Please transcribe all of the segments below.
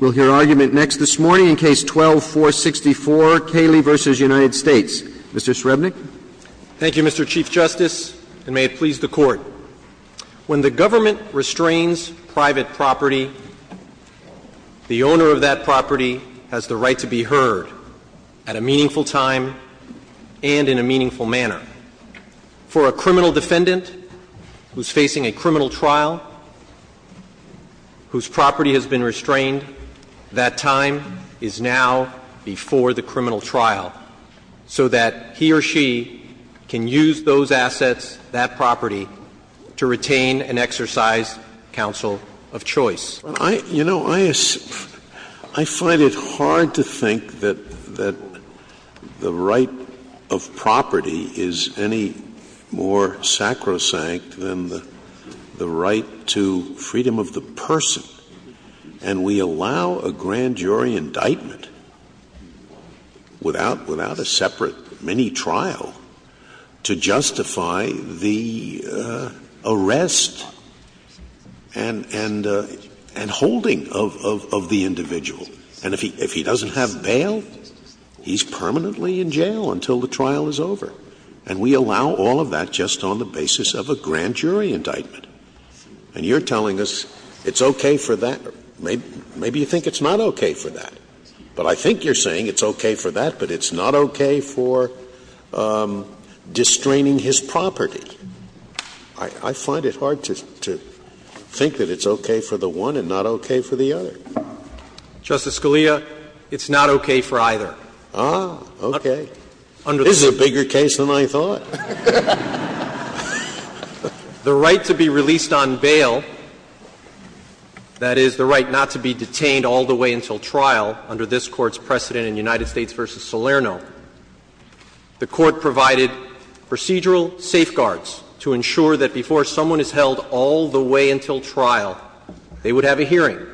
We'll hear argument next this morning in Case 12-464, Kaley v. United States. Mr. Srebnick. Thank you, Mr. Chief Justice, and may it please the Court. When the government restrains private property, the owner of that property has the right to be heard at a meaningful time and in a meaningful manner. For a criminal defendant who's facing a criminal trial, whose property has been restrained, that time is now before the criminal trial, so that he or she can use those assets, that property, to retain and exercise counsel of choice. You know, I find it hard to think that the right of property is any more sacrosanct than the right to freedom of the person. And we allow a grand jury indictment without a separate mini-trial to justify the arrest and holding of the individual. And if he doesn't have bail, he's permanently in jail until the trial is over. And we allow all of that just on the basis of a grand jury indictment. And you're telling us it's okay for that. Maybe you think it's not okay for that. But I think you're saying it's okay for that, but it's not okay for distraining his property. I find it hard to think that it's okay for the one and not okay for the other. Justice Scalia, it's not okay for either. Ah, okay. This is a bigger case than I thought. The right to be released on bail, that is, the right not to be detained all the way until trial under this Court's precedent in United States v. Salerno, the Court provided procedural safeguards to ensure that before someone is held all the way until trial, they would have a hearing,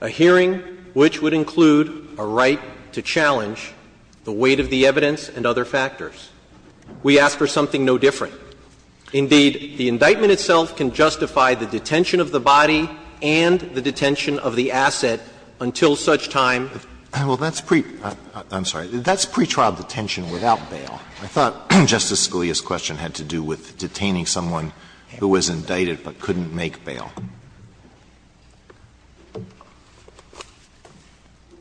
a hearing which would include a right to challenge the weight of the evidence and other factors. We ask for something no different. Indeed, the indictment itself can justify the detention of the body and the detention of the asset until such time. Well, that's pre – I'm sorry. That's pretrial detention without bail. I thought Justice Scalia's question had to do with detaining someone who was indicted but couldn't make bail.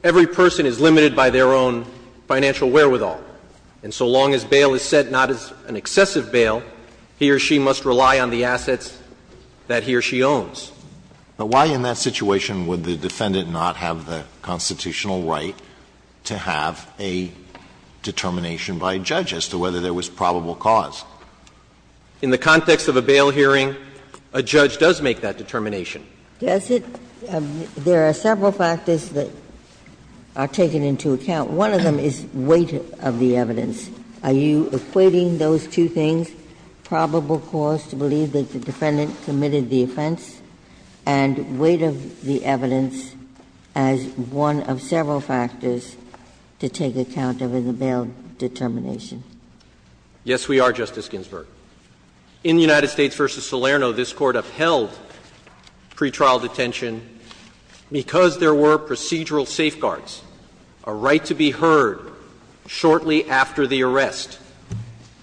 Every person is limited by their own financial wherewithal, and so long as bail is set not as an excessive bail, he or she must rely on the assets that he or she owns. But why in that situation would the defendant not have the constitutional right to have a determination by a judge as to whether there was probable cause? In the context of a bail hearing, a judge does make that determination. Does it? There are several factors that are taken into account. One of them is weight of the evidence. Are you equating those two things, probable cause to believe that the defendant committed the offense and weight of the evidence as one of several factors to take account of in the bail determination? Yes, we are, Justice Ginsburg. In the United States v. Salerno, this Court upheld pretrial detention because there were procedural safeguards, a right to be heard shortly after the arrest.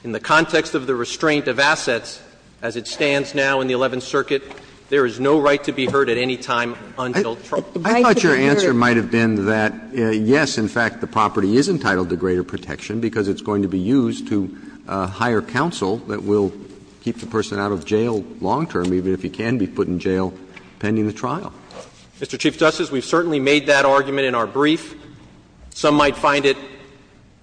In the context of the restraint of assets as it stands now in the Eleventh Circuit, there is no right to be heard at any time until trial. I thought your answer might have been that, yes, in fact, the property is entitled to greater protection because it's going to be used to hire counsel that will keep the person out of jail long term, even if he can be put in jail pending the trial. Mr. Chief Justice, we've certainly made that argument in our brief. Some might find it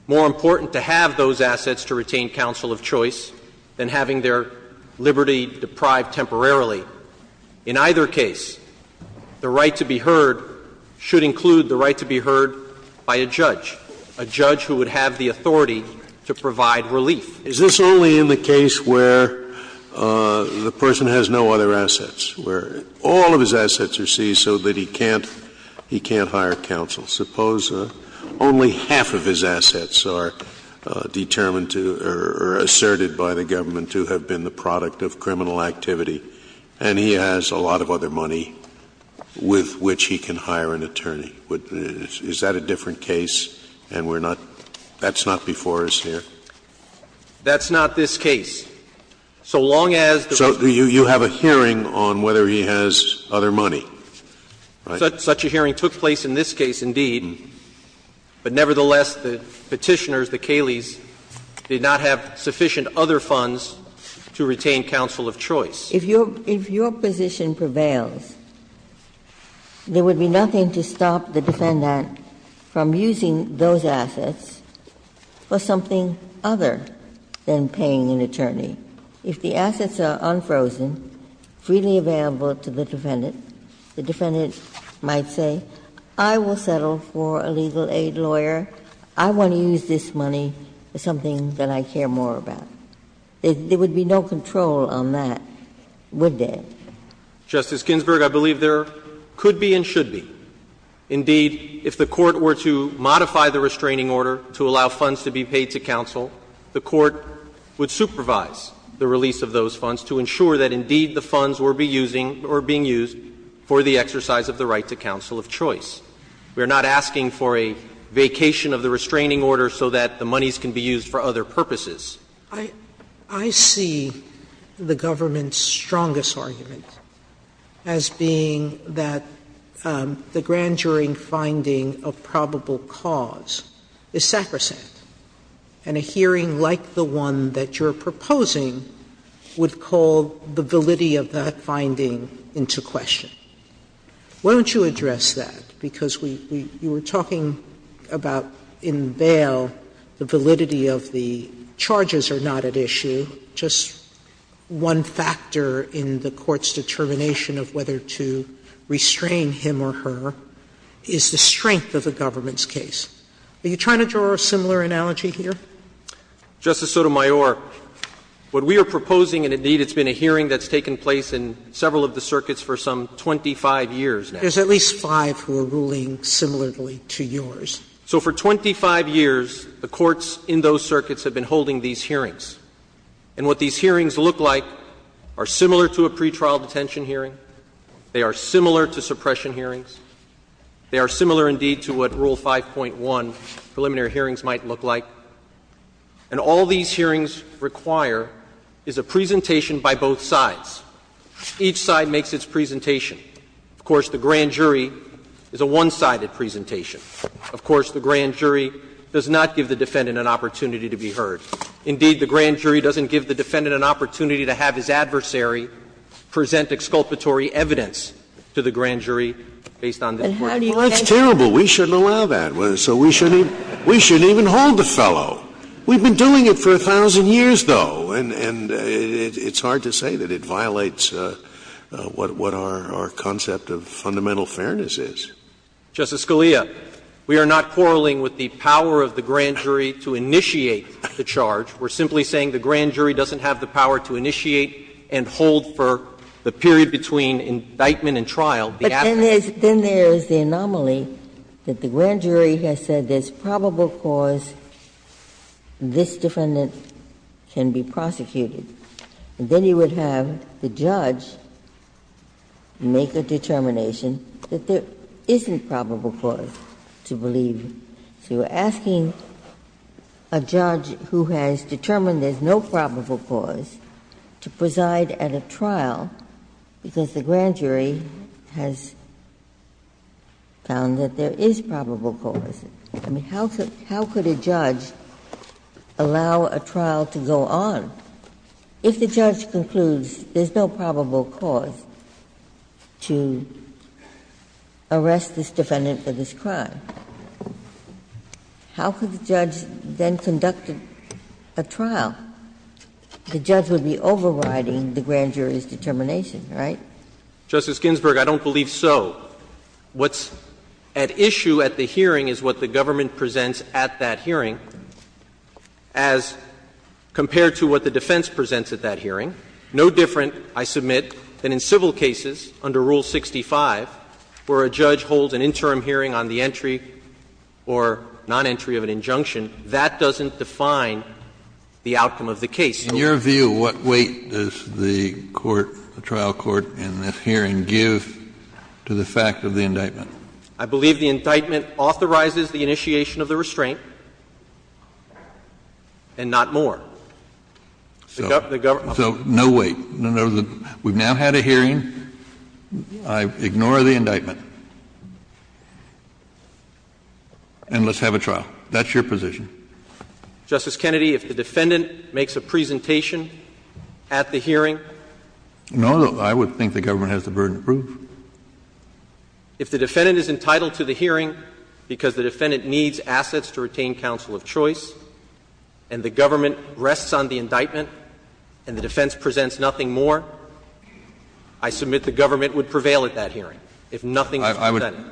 more important to have those assets to retain counsel of choice than having their liberty deprived temporarily. In either case, the right to be heard should include the right to be heard by a judge, a judge who would have the authority to provide relief. Is this only in the case where the person has no other assets, where all of his assets are seized so that he can't hire counsel? Suppose only half of his assets are determined to or asserted by the government to have been the product of criminal activity, and he has a lot of other money with which he can hire an attorney. Is that a different case and we're not – that's not before us here? That's not this case. So long as the person has no other assets. So you have a hearing on whether he has other money, right? Such a hearing took place in this case, indeed. But nevertheless, the Petitioners, the Cayleys, did not have sufficient other funds to retain counsel of choice. If your – if your position prevails, there would be nothing to stop the defendant from using those assets for something other than paying an attorney. If the assets are unfrozen, freely available to the defendant, the defendant might say, I will settle for a legal aid lawyer, I want to use this money for something that I care more about. There would be no control on that, would there? Justice Ginsburg, I believe there could be and should be. Indeed, if the Court were to modify the restraining order to allow funds to be paid to counsel, the Court would supervise the release of those funds to ensure that, indeed, the funds were be using or being used for the exercise of the right to counsel of choice. We are not asking for a vacation of the restraining order so that the monies can be used for other purposes. Sotomayor, I see the government's strongest argument as being that the grand jury finding of probable cause is sacrosanct, and a hearing like the one that you are proposing would call the validity of that finding into question. Why don't you address that? Because we, you were talking about in bail the validity of the charges are not at issue. Just one factor in the Court's determination of whether to restrain him or her is the strength of the government's case. Are you trying to draw a similar analogy here? Justice Sotomayor, what we are proposing, and indeed it's been a hearing that's taken place in several of the circuits for some 25 years now. There's at least five who are ruling similarly to yours. So for 25 years, the courts in those circuits have been holding these hearings. And what these hearings look like are similar to a pretrial detention hearing. They are similar to suppression hearings. They are similar, indeed, to what Rule 5.1 preliminary hearings might look like. And all these hearings require is a presentation by both sides. Each side makes its presentation. Of course, the grand jury is a one-sided presentation. Of course, the grand jury does not give the defendant an opportunity to be heard. Indeed, the grand jury doesn't give the defendant an opportunity to have his adversary present exculpatory evidence to the grand jury based on this court. Well, that's terrible. We shouldn't allow that. So we shouldn't even hold the fellow. We've been doing it for 1,000 years, though, and it's hard to say that it violates what our concept of fundamental fairness is. Justice Scalia, we are not quarreling with the power of the grand jury to initiate the charge. We're simply saying the grand jury doesn't have the power to initiate and hold for the period between indictment and trial. But then there's the anomaly that the grand jury has said there's probable cause this defendant can be prosecuted. And then you would have the judge make a determination that there isn't probable cause to believe. So you're asking a judge who has determined there's no probable cause to preside at a trial because the grand jury has found that there is probable cause. I mean, how could a judge allow a trial to go on if the judge concludes there's no probable cause to arrest this defendant for this crime? How could the judge then conduct a trial? The judge would be overriding the grand jury's determination, right? Justice Ginsburg, I don't believe so. What's at issue at the hearing is what the government presents at that hearing as compared to what the defense presents at that hearing. No different, I submit, than in civil cases under Rule 65, where a judge holds an interim hearing on the entry or non-entry of an injunction, that doesn't define the outcome of the case. Kennedy, in your view, what weight does the court, the trial court, in this hearing have to give to the fact of the indictment? I believe the indictment authorizes the initiation of the restraint and not more. So no weight. We've now had a hearing. I ignore the indictment. And let's have a trial. That's your position. Justice Kennedy, if the defendant makes a presentation at the hearing? No, I would think the government has the burden to prove. If the defendant is entitled to the hearing because the defendant needs assets to retain counsel of choice and the government rests on the indictment and the defense presents nothing more, I submit the government would prevail at that hearing if nothing was presented.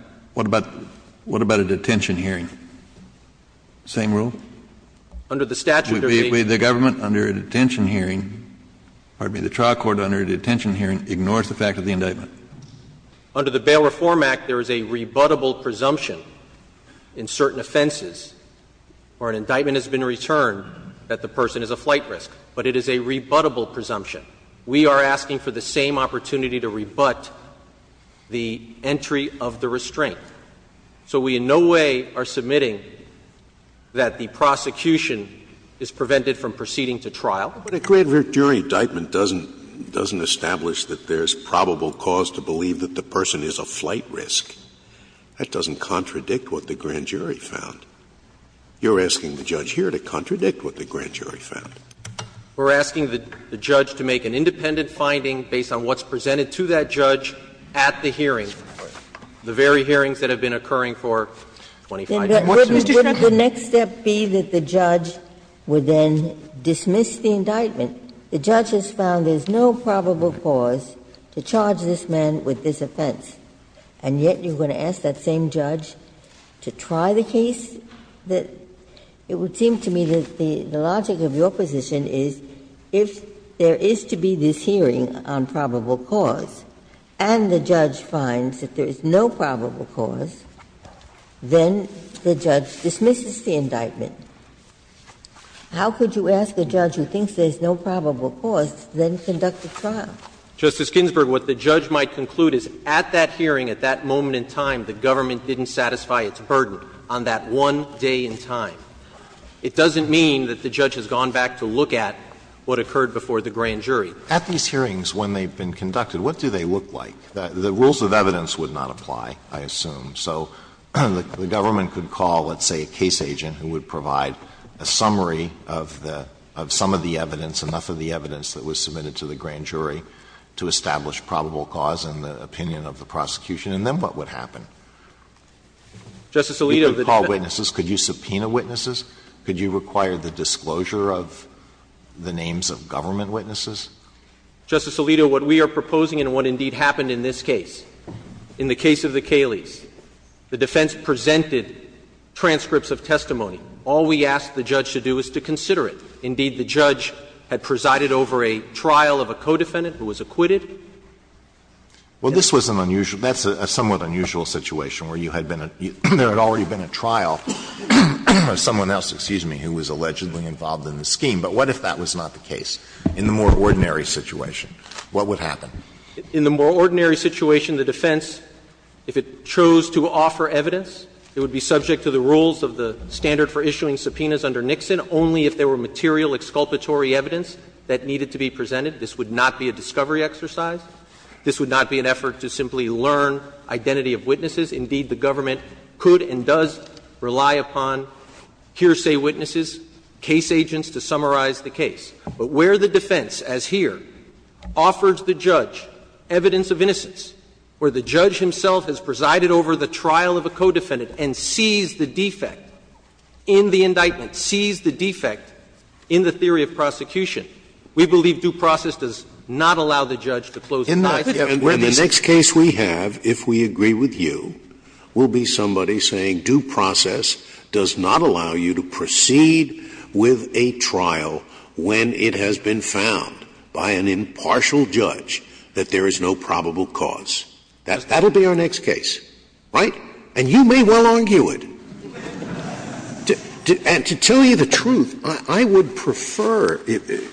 What about a detention hearing? Same rule? Under the statute. The government under a detention hearing, pardon me, the trial court under a detention hearing ignores the fact of the indictment. Under the Bail Reform Act, there is a rebuttable presumption in certain offenses where an indictment has been returned that the person is a flight risk. But it is a rebuttable presumption. We are asking for the same opportunity to rebut the entry of the restraint. So we in no way are submitting that the prosecution is prevented from proceeding to trial. But a grand jury indictment doesn't establish that there's probable cause to believe that the person is a flight risk. That doesn't contradict what the grand jury found. You're asking the judge here to contradict what the grand jury found. We're asking the judge to make an independent finding based on what's presented to that judge at the hearing. The very hearings that have been occurring for 25 years. Ginsburg. Would the next step be that the judge would then dismiss the indictment? The judge has found there's no probable cause to charge this man with this offense, and yet you're going to ask that same judge to try the case? It would seem to me that the logic of your position is if there is to be this hearing on probable cause, and the judge finds that there is no probable cause, then the judge dismisses the indictment. How could you ask a judge who thinks there's no probable cause to then conduct a trial? Justice Ginsburg, what the judge might conclude is at that hearing, at that moment in time, the government didn't satisfy its burden on that one day in time. It doesn't mean that the judge has gone back to look at what occurred before the grand jury. At these hearings, when they've been conducted, what do they look like? The rules of evidence would not apply, I assume. So the government could call, let's say, a case agent who would provide a summary of the — of some of the evidence, enough of the evidence that was submitted to the grand jury to establish probable cause in the opinion of the prosecution, and then what would happen? Justice Alito, the defendant — You could call witnesses. Could you subpoena witnesses? Could you require the disclosure of the names of government witnesses? Justice Alito, what we are proposing and what indeed happened in this case, in the case of the Cayleys, the defense presented transcripts of testimony. All we asked the judge to do is to consider it. Indeed, the judge had presided over a trial of a co-defendant who was acquitted. Well, this was an unusual — that's a somewhat unusual situation where you had been — there had already been a trial of someone else, excuse me, who was allegedly involved in the scheme. But what if that was not the case? In the more ordinary situation, what would happen? In the more ordinary situation, the defense, if it chose to offer evidence, it would be subject to the rules of the standard for issuing subpoenas under Nixon only if there were material exculpatory evidence that needed to be presented. This would not be a discovery exercise. This would not be an effort to simply learn identity of witnesses. Indeed, the government could and does rely upon hearsay witnesses, case agents to summarize the case. But where the defense, as here, offers the judge evidence of innocence, where the judge himself has presided over the trial of a co-defendant and sees the defect in the indictment, sees the defect in the theory of prosecution, we believe due process does not allow the judge to close the case. Scalia. And the next case we have, if we agree with you, will be somebody saying due process does not allow you to proceed with a trial when it has been found by an impartial judge that there is no probable cause. That will be our next case, right? And you may well argue it. And to tell you the truth, I would prefer, to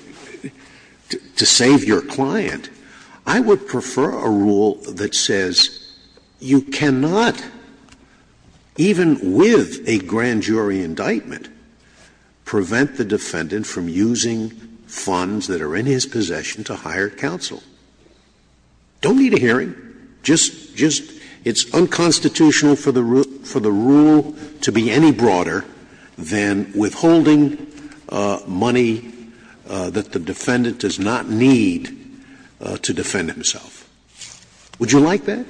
save your client, I would prefer a rule that says you cannot, even with a grand jury indictment, prevent the defendant from using funds that are in his possession to hire counsel. Don't need a hearing. Just — just it's unconstitutional for the rule to be any broader than withholding money that the defendant does not need to defend himself. Would you like that?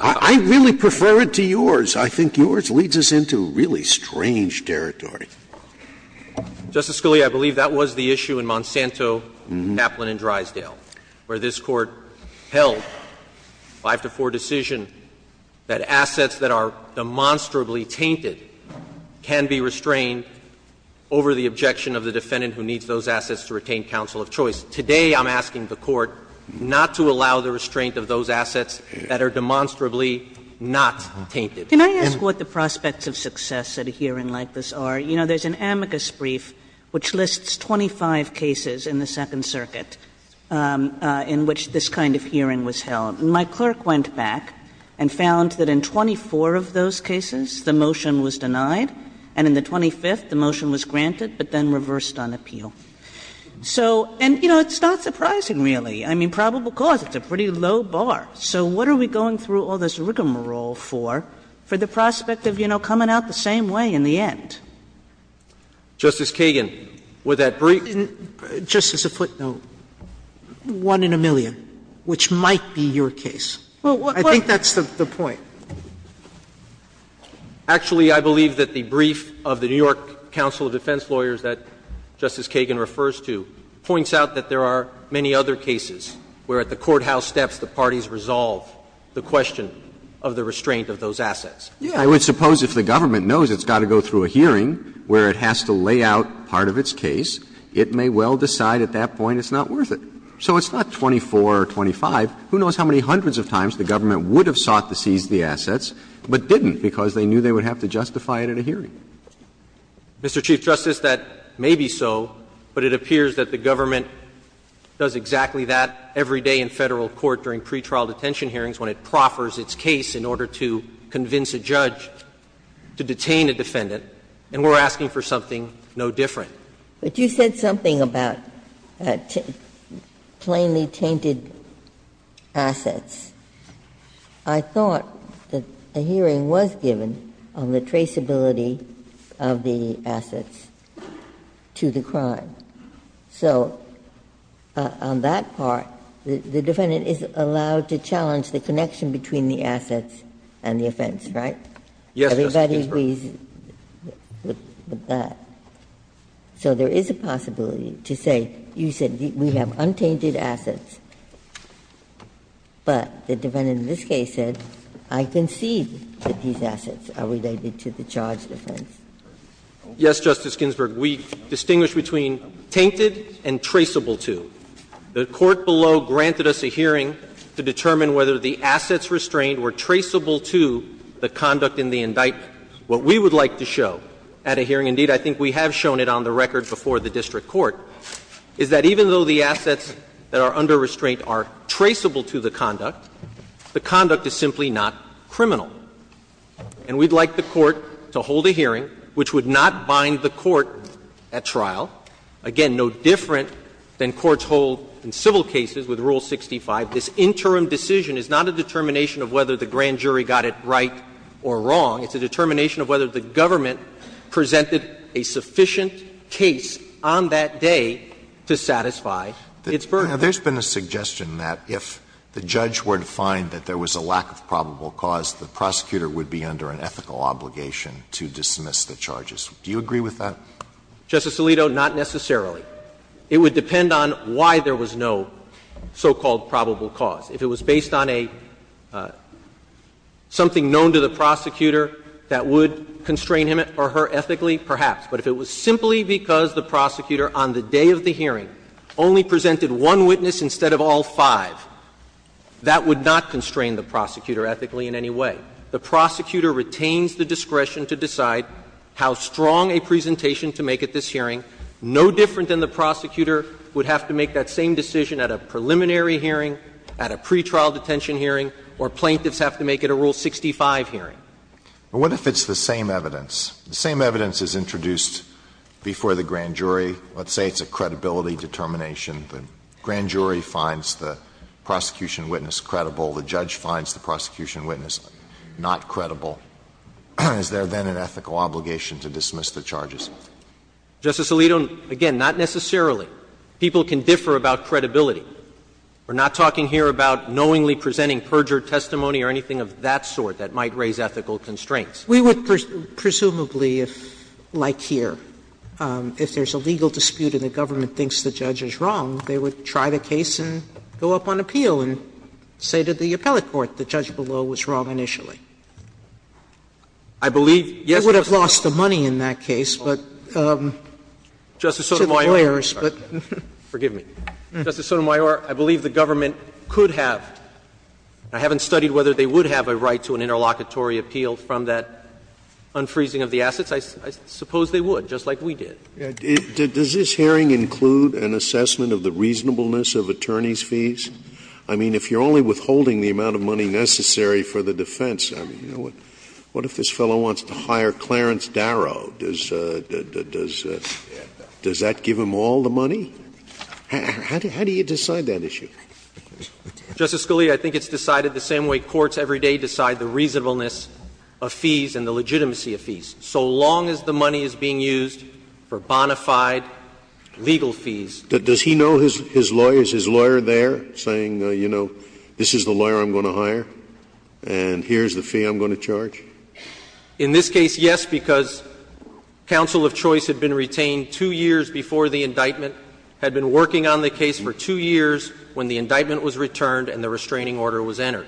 I really prefer it to yours. I think yours leads us into really strange territory. Justice Scalia, I believe that was the issue in Monsanto, Kaplan and Drysdale, where this Court held, 5-4 decision, that assets that are demonstrably tainted can be restrained over the objection of the defendant who needs those assets to retain counsel of choice. Today I'm asking the Court not to allow the restraint of those assets that are demonstrably not tainted. Can I ask what the prospects of success at a hearing like this are? You know, there's an amicus brief which lists 25 cases in the Second Circuit in which this kind of hearing was held, and my clerk went back and found that in 24 of those cases, the motion was denied, and in the 25th, the motion was granted but then reversed on appeal. So, and, you know, it's not surprising, really. I mean, probable cause, it's a pretty low bar. So what are we going through all this rigmarole for, for the prospect of, you know, coming out the same way in the end? Justice Kagan, would that brief? Just as a footnote, one in a million, which might be your case. I think that's the point. Actually, I believe that the brief of the New York Council of Defense Lawyers that Justice Kagan refers to points out that there are many other cases where at the courthouse steps the parties resolve the question of the restraint of those assets. Roberts. I would suppose if the government knows it's got to go through a hearing where it has to lay out part of its case, it may well decide at that point it's not worth it. So it's not 24 or 25. Who knows how many hundreds of times the government would have sought to seize the assets, but didn't because they knew they would have to justify it at a hearing. Mr. Chief Justice, that may be so, but it appears that the government does exactly that every day in Federal court during pretrial detention hearings when it proffers its case in order to convince a judge to detain a defendant, and we're asking for something no different. Ginsburg. But you said something about plainly tainted assets. I thought that a hearing was given on the traceability of the assets to the crime. So on that part, the defendant is allowed to challenge the connection between the assets and the offense, right? Yes, Justice Ginsburg. Everybody agrees with that? So there is a possibility to say, you said we have untainted assets, but the defendant in this case said, I concede that these assets are related to the charge defense. Yes, Justice Ginsburg. We distinguish between tainted and traceable to. The court below granted us a hearing to determine whether the assets restrained were traceable to the conduct in the indictment. What we would like to show at a hearing, indeed, I think we have shown it on the record before the district court, is that even though the assets that are under restraint are traceable to the conduct, the conduct is simply not criminal. And we'd like the court to hold a hearing which would not bind the court at trial, again, no different than courts hold in civil cases with Rule 65. This interim decision is not a determination of whether the grand jury got it right or wrong. It's a determination of whether the government presented a sufficient case on that day to satisfy its burden. Alito, there's been a suggestion that if the judge were to find that there was a lack of probable cause, the prosecutor would be under an ethical obligation to dismiss the charges. Do you agree with that? Justice Alito, not necessarily. It would depend on why there was no so-called probable cause. If it was based on a – something known to the prosecutor that would constrain him or her ethically, perhaps. But if it was simply because the prosecutor on the day of the hearing only presented one witness instead of all five, that would not constrain the prosecutor ethically in any way. The prosecutor retains the discretion to decide how strong a presentation to make at this hearing, no different than the prosecutor would have to make that same decision at a preliminary hearing, at a pretrial detention hearing, or plaintiffs have to make at a Rule 65 hearing. But what if it's the same evidence? The same evidence is introduced before the grand jury. Let's say it's a credibility determination. The grand jury finds the prosecution witness credible. The judge finds the prosecution witness not credible. Is there then an ethical obligation to dismiss the charges? Justice Alito, again, not necessarily. People can differ about credibility. We're not talking here about knowingly presenting perjured testimony or anything of that sort that might raise ethical constraints. Sotomayor, presumably, if, like here, if there's a legal dispute and the government thinks the judge is wrong, they would try the case and go up on appeal and say to the appellate court the judge below was wrong initially. I believe, yes, Justice Sotomayor. You would have lost the money in that case, but to the lawyers. Forgive me. Justice Sotomayor, I believe the government could have. I haven't studied whether they would have a right to an interlocutory appeal from that unfreezing of the assets. I suppose they would, just like we did. Scalia, does this hearing include an assessment of the reasonableness of attorney's fees? I mean, if you're only withholding the amount of money necessary for the defense, I mean, what if this fellow wants to hire Clarence Darrow? Does that give him all the money? How do you decide that issue? Justice Scalia, I think it's decided the same way courts every day decide the reasonableness of fees and the legitimacy of fees. So long as the money is being used for bona fide legal fees. Does he know his lawyers, his lawyer there, saying, you know, this is the lawyer I'm going to hire, and here's the fee I'm going to charge? In this case, yes, because counsel of choice had been retained two years before the indictment, had been working on the case for two years when the indictment was returned and the restraining order was entered.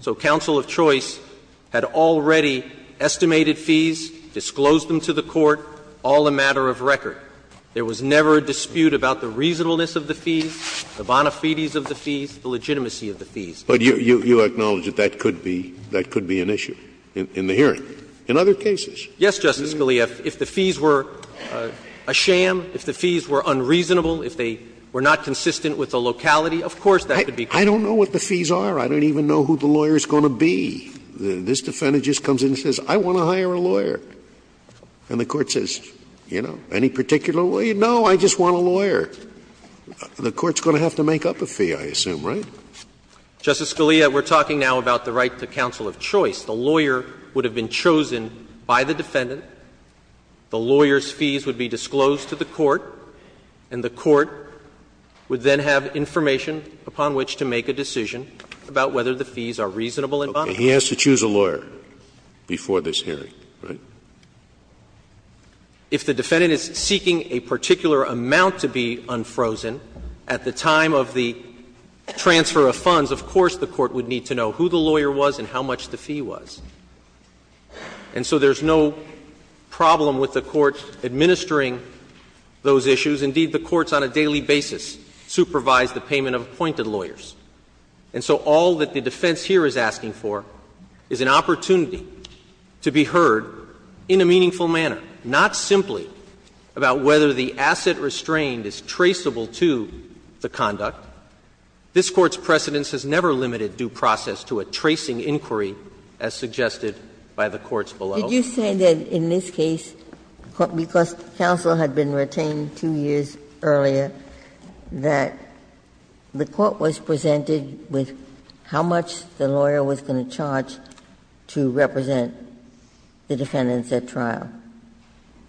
So counsel of choice had already estimated fees, disclosed them to the court, all a matter of record. There was never a dispute about the reasonableness of the fees, the bona fides of the fees, the legitimacy of the fees. But you acknowledge that that could be an issue in the hearing, in other cases? Yes, Justice Scalia. If the fees were a sham, if the fees were unreasonable, if they were not consistent with the locality, of course that could be. I don't know what the fees are. I don't even know who the lawyer is going to be. This defendant just comes in and says, I want to hire a lawyer. And the court says, you know, any particular lawyer? No, I just want a lawyer. The court's going to have to make up a fee, I assume, right? Justice Scalia, we're talking now about the right to counsel of choice. The lawyer would have been chosen by the defendant. The lawyer's fees would be disclosed to the court, and the court would then have information upon which to make a decision about whether the fees are reasonable and bona fides. He has to choose a lawyer before this hearing, right? If the defendant is seeking a particular amount to be unfrozen, at the time of the transfer of funds, of course the court would need to know who the lawyer was and how much the fee was. And so there's no problem with the court administering those issues. Indeed, the courts on a daily basis supervise the payment of appointed lawyers. And so all that the defense here is asking for is an opportunity to be heard in a meaningful manner, not simply about whether the asset restrained is traceable to the conduct. This Court's precedence has never limited due process to a tracing inquiry as suggested by the courts below. Ginsburg. Did you say that in this case, because counsel had been retained 2 years earlier, that the court was presented with how much the lawyer was going to charge to represent the defendants at trial?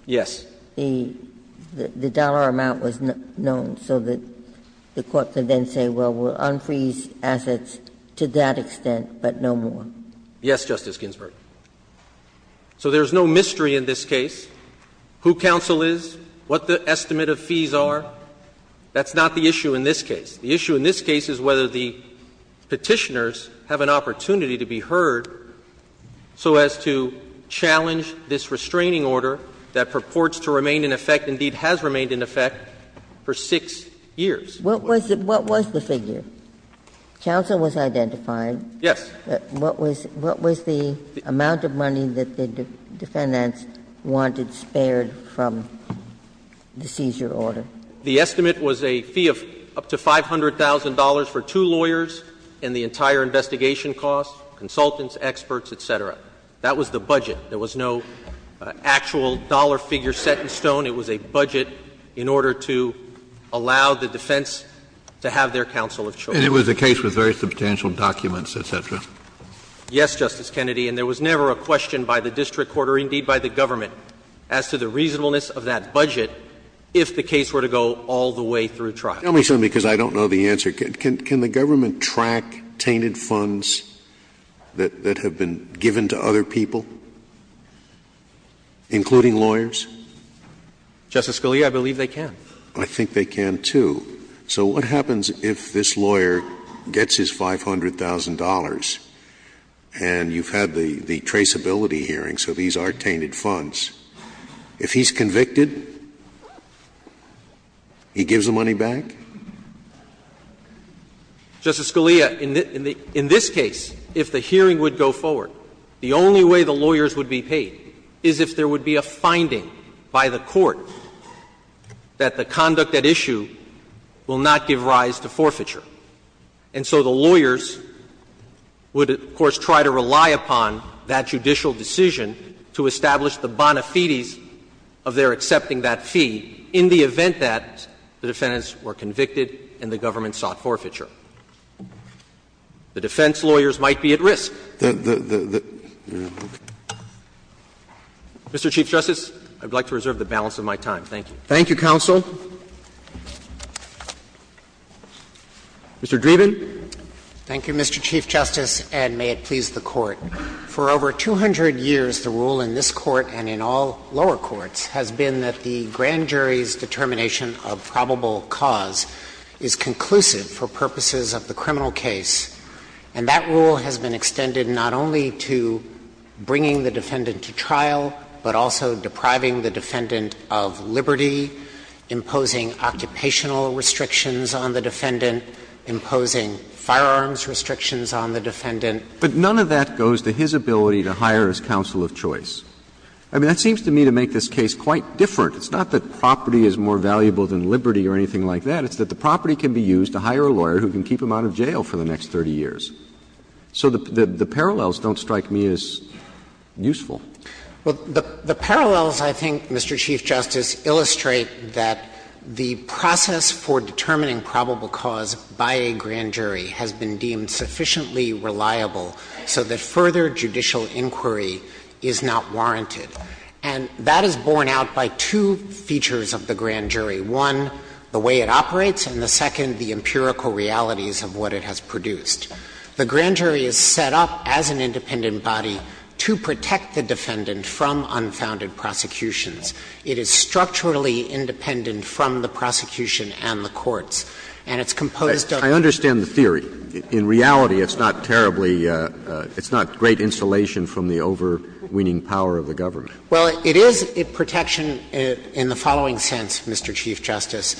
Yes. The dollar amount was known so that the court could then say, well, we'll unfreeze assets to that extent, but no more. Yes, Justice Ginsburg. So there's no mystery in this case who counsel is, what the estimate of fees are. That's not the issue in this case. The issue in this case is whether the Petitioners have an opportunity to be heard so as to challenge this restraining order that purports to remain in effect, indeed has remained in effect, for 6 years. What was the figure? Counsel was identified. Yes. What was the amount of money that the defendants wanted spared from the seizure order? The estimate was a fee of up to $500,000 for two lawyers and the entire investigation cost, consultants, experts, et cetera. That was the budget. There was no actual dollar figure set in stone. It was a budget in order to allow the defense to have their counsel of choice. And it was a case with very substantial documents, et cetera. Yes, Justice Kennedy. And there was never a question by the district court or indeed by the government as to the reasonableness of that budget if the case were to go all the way through trial. Tell me something, because I don't know the answer. Can the government track tainted funds that have been given to other people, including lawyers? Justice Scalia, I believe they can. I think they can, too. So what happens if this lawyer gets his $500,000 and you've had the traceability hearing, so these are tainted funds. If he's convicted, he gives the money back? Justice Scalia, in this case, if the hearing would go forward, the only way the lawyers would be paid is if there would be a finding by the court that the conduct at issue will not give rise to forfeiture. And so the lawyers would, of course, try to rely upon that judicial decision to establish the bona fides of their accepting that fee in the event that the defendants were convicted and the government sought forfeiture. The defense lawyers might be at risk. Mr. Chief Justice, I would like to reserve the balance of my time. Thank you. Thank you, counsel. Mr. Dreeben. Thank you, Mr. Chief Justice, and may it please the Court. For over 200 years, the rule in this Court and in all lower courts has been that the grand jury's determination of probable cause is conclusive for purposes of the criminal case, and that rule has been extended not only to bringing the defendant to trial, but also depriving the defendant of liberty, imposing occupational restrictions on the defendant, imposing firearms restrictions on the defendant. But none of that goes to his ability to hire his counsel of choice. I mean, that seems to me to make this case quite different. It's not that property is more valuable than liberty or anything like that. It's that the property can be used to hire a lawyer who can keep him out of jail for the next 30 years. So the parallels don't strike me as useful. Well, the parallels, I think, Mr. Chief Justice, illustrate that the process for determining probable cause by a grand jury has been deemed sufficiently reliable so that further judicial inquiry is not warranted. And that is borne out by two features of the grand jury, one, the way it operates, and the second, the empirical realities of what it has produced. The grand jury is set up as an independent body to protect the defendant from unfounded prosecutions. It is structurally independent from the prosecution and the courts. And it's composed of the courts. I understand the theory. In reality, it's not terribly – it's not great insulation from the overweening power of the government. Well, it is a protection in the following sense, Mr. Chief Justice.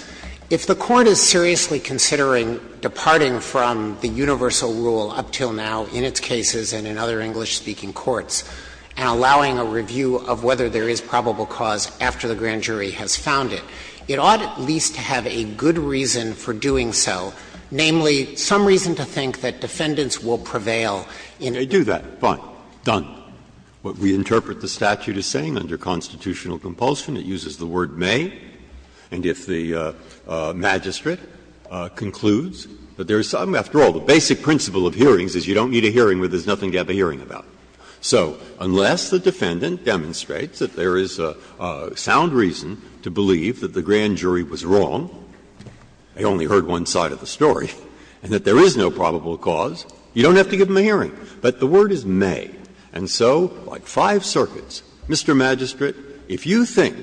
If the Court is seriously considering departing from the universal rule up till now in its cases and in other English-speaking courts, and allowing a review of whether there is probable cause after the grand jury has found it, it ought at least to have a good reason for doing so, namely, some reason to think that defendants will prevail Breyer, I do that. Fine. Done. What we interpret the statute as saying under constitutional compulsion, it uses the word may, and if the magistrate concludes that there is some – after all, the basic principle of hearings is you don't need a hearing where there is nothing to have a hearing about. So unless the defendant demonstrates that there is a sound reason to believe that the grand jury was wrong, they only heard one side of the story, and that there is no probable cause, you don't have to give them a hearing. But the word is may. And so, like five circuits, Mr. Magistrate, if you think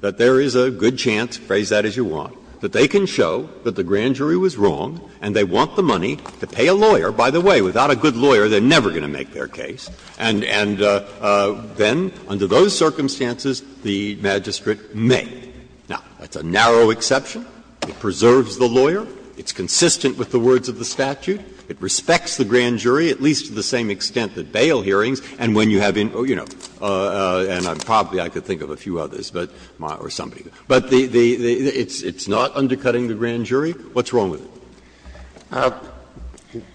that there is a good chance – phrase that as you want – that they can show that the grand jury was wrong and they want the money to pay a lawyer – by the way, without a good lawyer, they're never going to make their case – and then, under those circumstances, the magistrate may. Now, that's a narrow exception. It preserves the lawyer. It's consistent with the words of the statute. It respects the grand jury, at least to the same extent that bail hearings and when you have in – you know, and probably I could think of a few others, but – or somebody. But the – it's not undercutting the grand jury. What's wrong with it?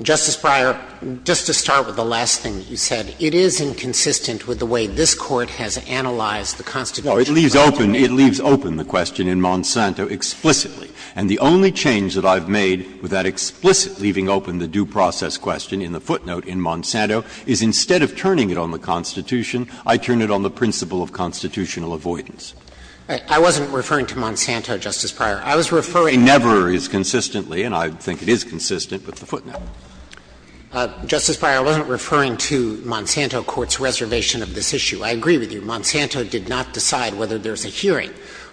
Justice Breyer, just to start with the last thing that you said, it is inconsistent with the way this Court has analyzed the Constitution. No, it leaves open – it leaves open the question in Monsanto explicitly. And the only change that I've made with that explicit leaving open the due process question in the footnote in Monsanto is instead of turning it on the Constitution, I turn it on the principle of constitutional avoidance. I wasn't referring to Monsanto, Justice Breyer. I was referring to the principle of constitutional avoidance. And I think it is consistent with the footnote. Dreeben. Justice Breyer, I wasn't referring to Monsanto Court's reservation of this issue. I agree with you. Monsanto did not decide whether there's a hearing.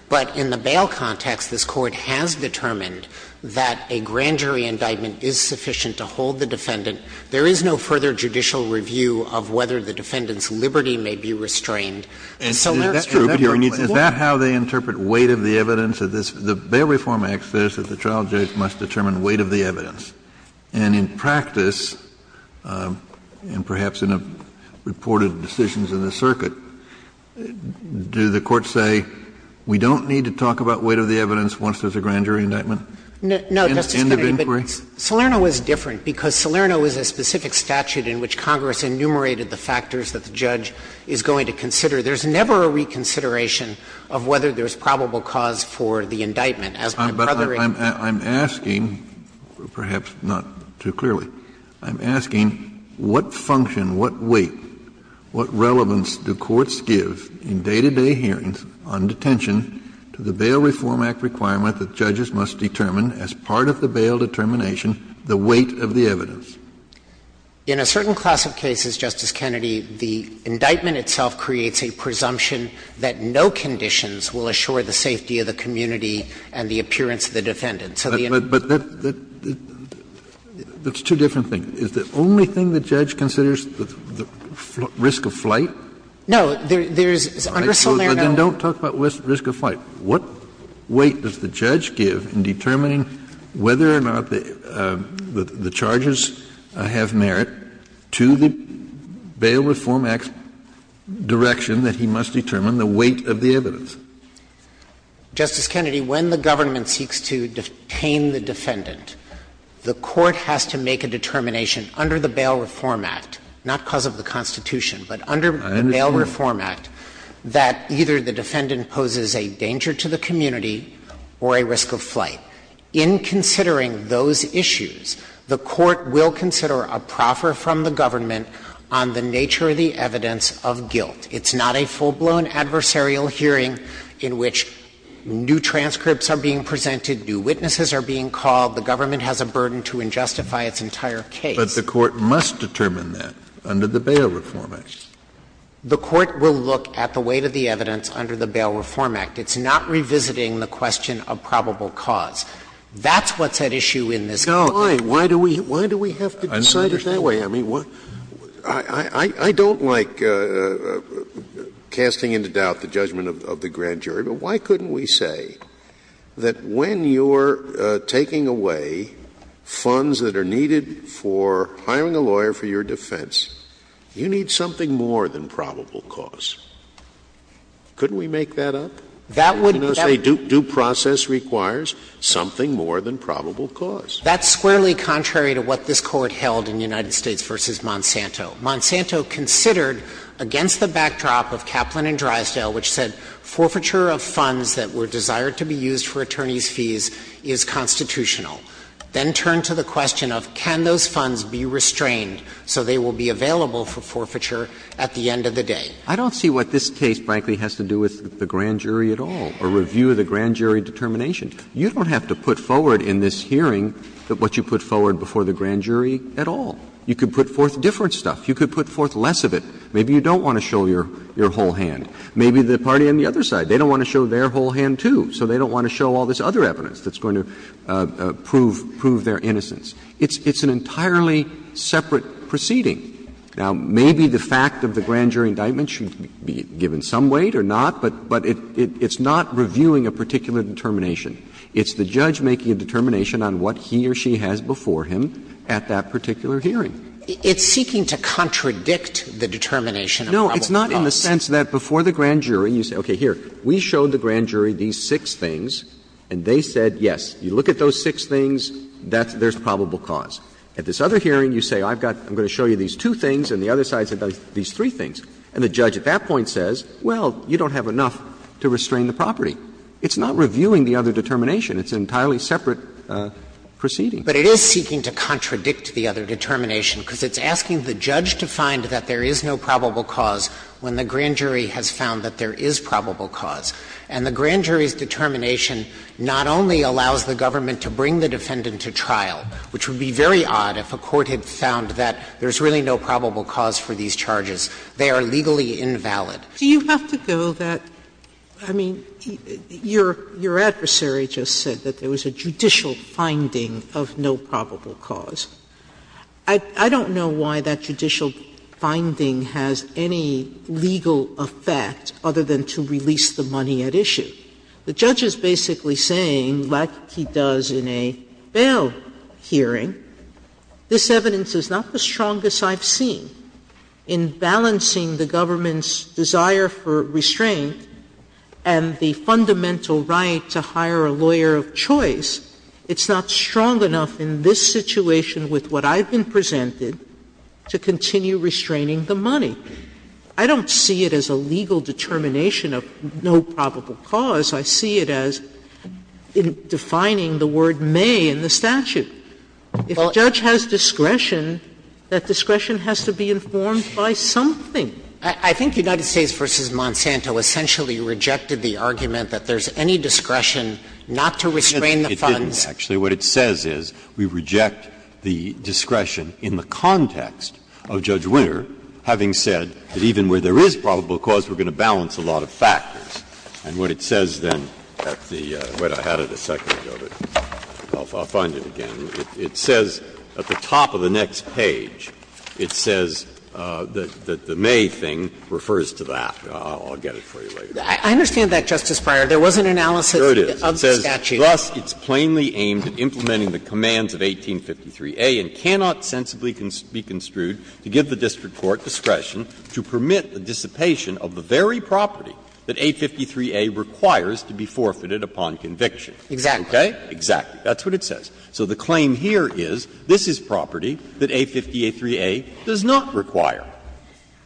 But in the bail context, this Court has determined that a grand jury indictment is sufficient to hold the defendant. There is no further judicial review of whether the defendant's liberty may be restrained. And so there are two different points. And that's true, but you're – is that how they interpret weight of the evidence of this? The Bail Reform Act says that the trial judge must determine weight of the evidence. And in practice, and perhaps in a reported decisions in the circuit, do the courts say we don't need to talk about weight of the evidence once there's a grand jury indictment? No, Justice Kennedy. But Salerno is different, because Salerno is a specific statute in which Congress enumerated the factors that the judge is going to consider. There's never a reconsideration of whether there's probable cause for the indictment. As my brother and I know. Kennedy, I'm asking, perhaps not too clearly, I'm asking what function, what weight, what relevance do courts give in day-to-day hearings on detention to the Bail Reform Act requirement that judges must determine as part of the bail determination the weight of the evidence? In a certain class of cases, Justice Kennedy, the indictment itself creates a presumption that no conditions will assure the safety of the community and the appearance of the defendant. So the indictment doesn't do that. But that's two different things. Is the only thing the judge considers the risk of flight? No. There's under Salerno. Then don't talk about risk of flight. What weight does the judge give in determining whether or not the charges have merit to the Bail Reform Act direction that he must determine the weight of the evidence? Justice Kennedy, when the government seeks to detain the defendant, the court has to make a determination under the Bail Reform Act, not because of the Constitution, but under the Bail Reform Act, that either the defendant poses a danger to the community or a risk of flight. In considering those issues, the court will consider a proffer from the government on the nature of the evidence of guilt. It's not a full-blown adversarial hearing in which new transcripts are being presented, new witnesses are being called. The government has a burden to injustify its entire case. But the court must determine that under the Bail Reform Act. The court will look at the weight of the evidence under the Bail Reform Act. It's not revisiting the question of probable cause. That's what's at issue in this case. No. Why do we have to decide it that way? I don't like casting into doubt the judgment of the grand jury, but why couldn't we say that when you're taking away funds that are needed for hiring a lawyer for your defense, you need something more than probable cause? Couldn't we make that up? That would be a due process requires something more than probable cause. That's squarely contrary to what this Court held in United States v. Monsanto. Monsanto considered, against the backdrop of Kaplan and Drysdale, which said forfeiture of funds that were desired to be used for attorneys' fees is constitutional. Then turn to the question of can those funds be restrained so they will be available for forfeiture at the end of the day. I don't see what this case, frankly, has to do with the grand jury at all or review of the grand jury determination. You don't have to put forward in this hearing what you put forward before the grand jury at all. You could put forth different stuff. You could put forth less of it. Maybe you don't want to show your whole hand. Maybe the party on the other side. They don't want to show their whole hand, too, so they don't want to show all this other evidence that's going to prove their innocence. It's an entirely separate proceeding. Now, maybe the fact of the grand jury indictment should be given some weight or not, but it's not reviewing a particular determination. It's the judge making a determination on what he or she has before him at that particular hearing. Dreeben. It's seeking to contradict the determination of probable cause. No. It's not in the sense that before the grand jury, you say, okay, here, we showed the grand jury these six things, and they said, yes, you look at those six things, there's probable cause. At this other hearing, you say, I've got to show you these two things, and the other side says these three things. And the judge at that point says, well, you don't have enough to restrain the property. It's not reviewing the other determination. It's an entirely separate proceeding. But it is seeking to contradict the other determination, because it's asking the judge to find that there is no probable cause when the grand jury has found that there is probable cause. And the grand jury's determination not only allows the government to bring the defendant to trial, which would be very odd if a court had found that there's really no probable cause for these charges. They are legally invalid. Sotomayor, do you have to go that – I mean, your adversary just said that there was a judicial finding of no probable cause. I don't know why that judicial finding has any legal effect other than to release the money at issue. The judge is basically saying, like he does in a bail hearing, this evidence is not the strongest I've seen in balancing the government's desire for restraint and the fundamental right to hire a lawyer of choice. It's not strong enough in this situation with what I've been presented to continue restraining the money. I don't see it as a legal determination of no probable cause. I see it as defining the word may in the statute. If a judge has discretion, that discretion has to be informed by something. Dreeben, I think United States v. Monsanto essentially rejected the argument that there's any discretion not to restrain the funds. Breyer, It didn't, actually. What it says is we reject the discretion in the context of Judge Winter having said that even where there is probable cause, we're going to balance a lot of factors. And what it says then at the – wait, I had it a second ago, but I'll find it again. It says at the top of the next page, it says that the may thing refers to that. I'll get it for you later. I understand that, Justice Breyer. There was an analysis of the statute. Breyer, there it is. It says, Thus, it's plainly aimed at implementing the commands of 1853a and cannot sensibly be construed to give the district court discretion to permit the dissipation of the very property that A53a requires to be forfeited upon conviction. Exactly. Okay? Exactly. That's what it says. So the claim here is this is property that A583a does not require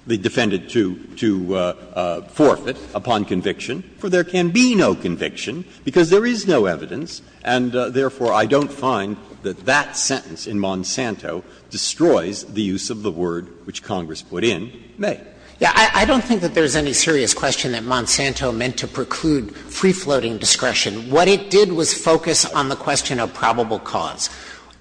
the defendant to forfeit upon conviction, for there can be no conviction, because there is no evidence. And therefore, I don't find that that sentence in Monsanto destroys the use of the word which Congress put in, may. Yeah. I don't think that there's any serious question that Monsanto meant to preclude free-floating discretion. What it did was focus on the question of probable cause.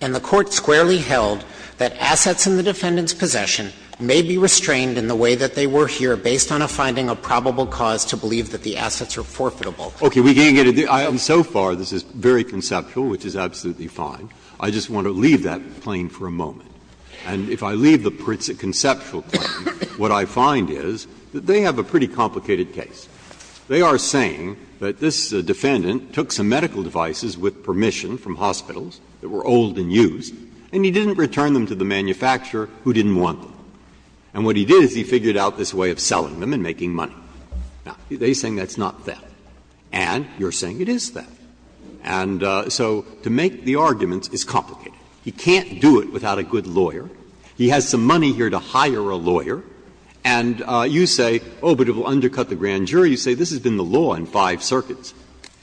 And the Court squarely held that assets in the defendant's possession may be restrained in the way that they were here, based on a finding of probable cause to believe that the assets are forfeitable. Okay. We can't get into that. So far, this is very conceptual, which is absolutely fine. I just want to leave that claim for a moment. And if I leave the conceptual claim, what I find is that they have a pretty complicated case. They are saying that this defendant took some medical devices with permission from hospitals that were old and used, and he didn't return them to the manufacturer who didn't want them. And what he did is he figured out this way of selling them and making money. Now, they are saying that's not theft. And you are saying it is theft. And so to make the arguments is complicated. He can't do it without a good lawyer. He has some money here to hire a lawyer. And you say, oh, but it will undercut the grand jury. You say this has been the law in five circuits,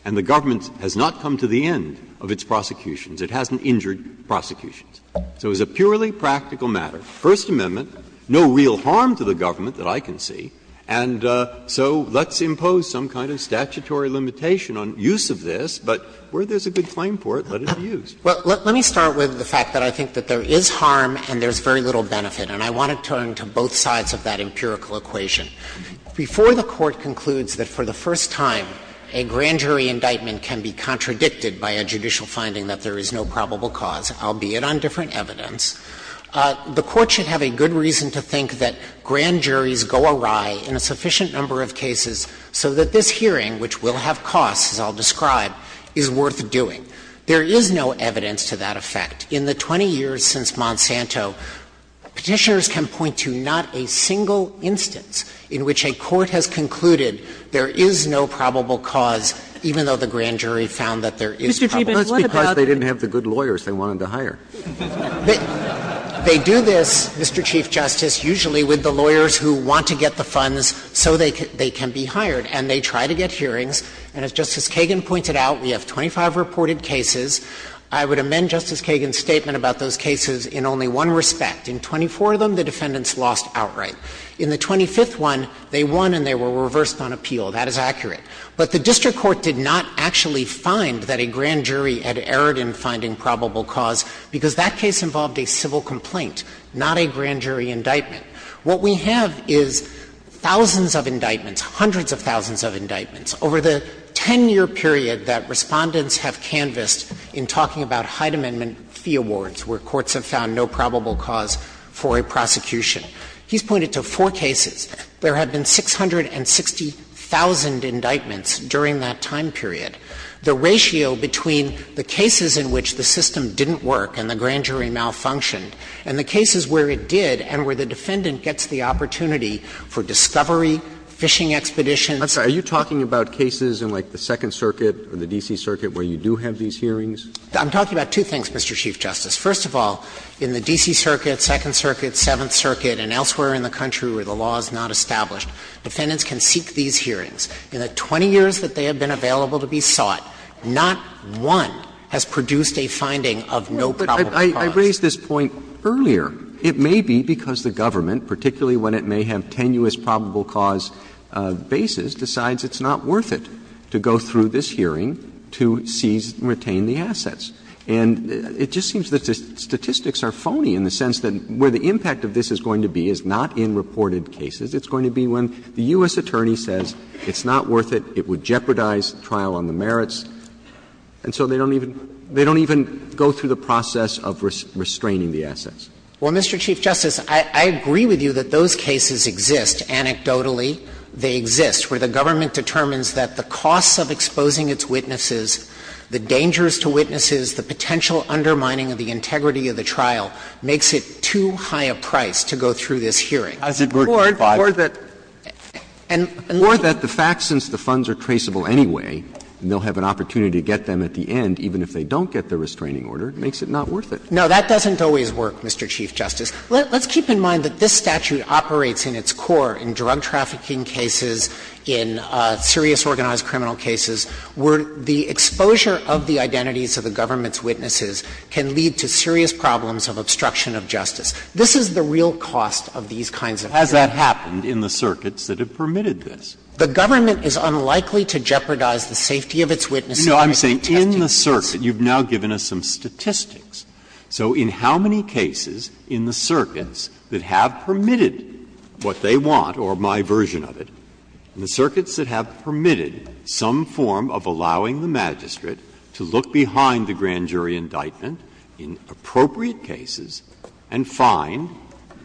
and the government has not come to the end of its prosecutions. It hasn't injured prosecutions. So it's a purely practical matter. First Amendment, no real harm to the government that I can see. And so let's impose some kind of statutory limitation on use of this. But where there is a good claim for it, let it be used. Dreeben. Well, let me start with the fact that I think that there is harm and there is very little benefit. And I want to turn to both sides of that empirical equation. Before the Court concludes that for the first time a grand jury indictment can be contradicted by a judicial finding that there is no probable cause, albeit on different evidence, the Court should have a good reason to think that grand juries go awry in a sufficient number of cases so that this hearing, which will have costs, as I'll describe, is worth doing. There is no evidence to that effect. In the 20 years since Monsanto, Petitioners can point to not a single instance in which a court has concluded there is no probable cause, even though the grand jury found that there is probable cause. Sotomayor, what about the other case? Roberts, because they didn't have the good lawyers they wanted to hire. They do this, Mr. Chief Justice, usually with the lawyers who want to get the funds so they can be hired, and they try to get hearings. And as Justice Kagan pointed out, we have 25 reported cases. I would amend Justice Kagan's statement about those cases in only one respect. In 24 of them, the defendants lost outright. In the 25th one, they won and they were reversed on appeal. That is accurate. But the district court did not actually find that a grand jury had erred in finding probable cause, because that case involved a civil complaint, not a grand jury indictment. What we have is thousands of indictments, hundreds of thousands of indictments. Over the 10-year period that Respondents have canvassed in talking about Hyde Amendment fee awards, where courts have found no probable cause for a prosecution, he's pointed to four cases. There have been 660,000 indictments during that time period. The ratio between the cases in which the system didn't work and the grand jury malfunctioned and the cases where it did and where the defendant gets the opportunity for discovery, fishing expeditions. Roberts. Are you talking about cases in, like, the Second Circuit or the D.C. Circuit where you do have these hearings? I'm talking about two things, Mr. Chief Justice. First of all, in the D.C. Circuit, Second Circuit, Seventh Circuit, and elsewhere in the country where the law is not established, defendants can seek these hearings. In the 20 years that they have been available to be sought, not one has produced a finding of no probable cause. Roberts. I raised this point earlier. It may be because the government, particularly when it may have tenuous probable cause bases, decides it's not worth it to go through this hearing to seize and retain the assets. And it just seems that the statistics are phony in the sense that where the impact of this is going to be is not in reported cases. It's going to be when the U.S. attorney says it's not worth it, it would jeopardize the trial on the merits, and so they don't even go through the process of restraining the assets. Well, Mr. Chief Justice, I agree with you that those cases exist. Anecdotally, they exist where the government determines that the costs of exposing its witnesses, the dangers to witnesses, the potential undermining of the integrity of the trial makes it too high a price to go through this hearing. Or that the facts, since the funds are traceable anyway, and they'll have an opportunity to get them at the end, even if they don't get the restraining order, makes it not worth it. No, that doesn't always work, Mr. Chief Justice. Let's keep in mind that this statute operates in its core in drug trafficking cases, in serious organized criminal cases, where the exposure of the identities of the government's witnesses can lead to serious problems of obstruction of justice. This is the real cost of these kinds of hearings. Breyer. Has that happened in the circuits that have permitted this? The government is unlikely to jeopardize the safety of its witnesses by protesting the case. No, I'm saying in the circuit. You've now given us some statistics. So in how many cases in the circuits that have permitted what they want, or my version of it, in the circuits that have permitted some form of allowing the magistrate to look behind the grand jury indictment in appropriate cases and find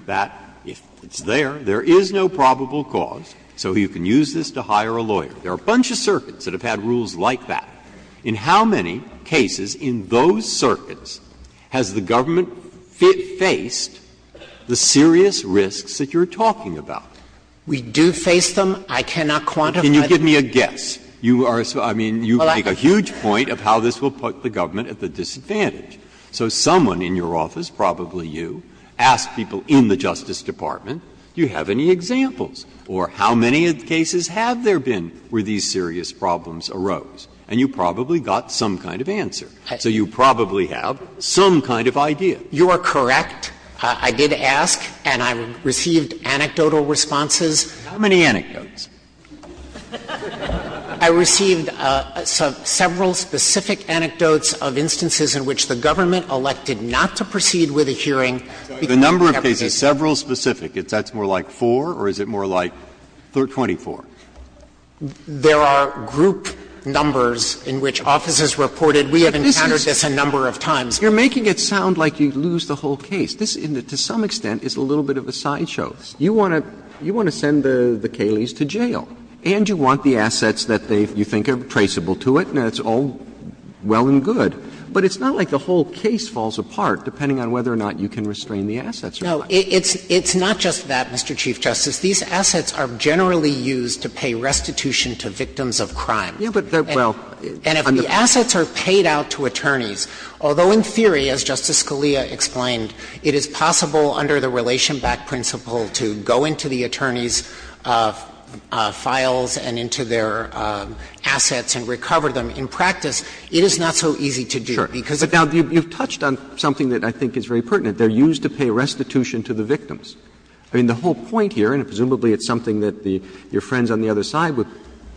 that if it's there, there is no probable cause, so you can use this to hire a lawyer. There are a bunch of circuits that have had rules like that. In how many cases in those circuits has the government faced the serious risks that you're talking about? We do face them. I cannot quantify them. Can you give me a guess? You are so — I mean, you make a huge point of how this will put the government at the disadvantage. So someone in your office, probably you, asked people in the Justice Department, do you have any examples? Or how many cases have there been where these serious problems arose? And you probably got some kind of answer. So you probably have some kind of idea. You are correct. I did ask, and I received anecdotal responses. How many anecdotes? I received several specific anecdotes of instances in which the government elected not to proceed with a hearing because the government was too busy. The number of cases, several specific, that's more like 4 or is it more like 24? There are group numbers in which offices reported, we have encountered this a number of times. You're making it sound like you lose the whole case. This, to some extent, is a little bit of a sideshow. You want to send the Cayleys to jail, and you want the assets that you think are traceable to it, and it's all well and good. But it's not like the whole case falls apart, depending on whether or not you can restrain the assets or not. No. It's not just that, Mr. Chief Justice. These assets are generally used to pay restitution to victims of crime. And if the assets are paid out to attorneys, although in theory, as Justice Scalia explained, it is possible under the Relationback principle to go into the attorney's files and into their assets and recover them, in practice, it is not so easy to do. Because if you've touched on something that I think is very pertinent, they're used to pay restitution to the victims. I mean, the whole point here, and presumably it's something that your friends on the other side would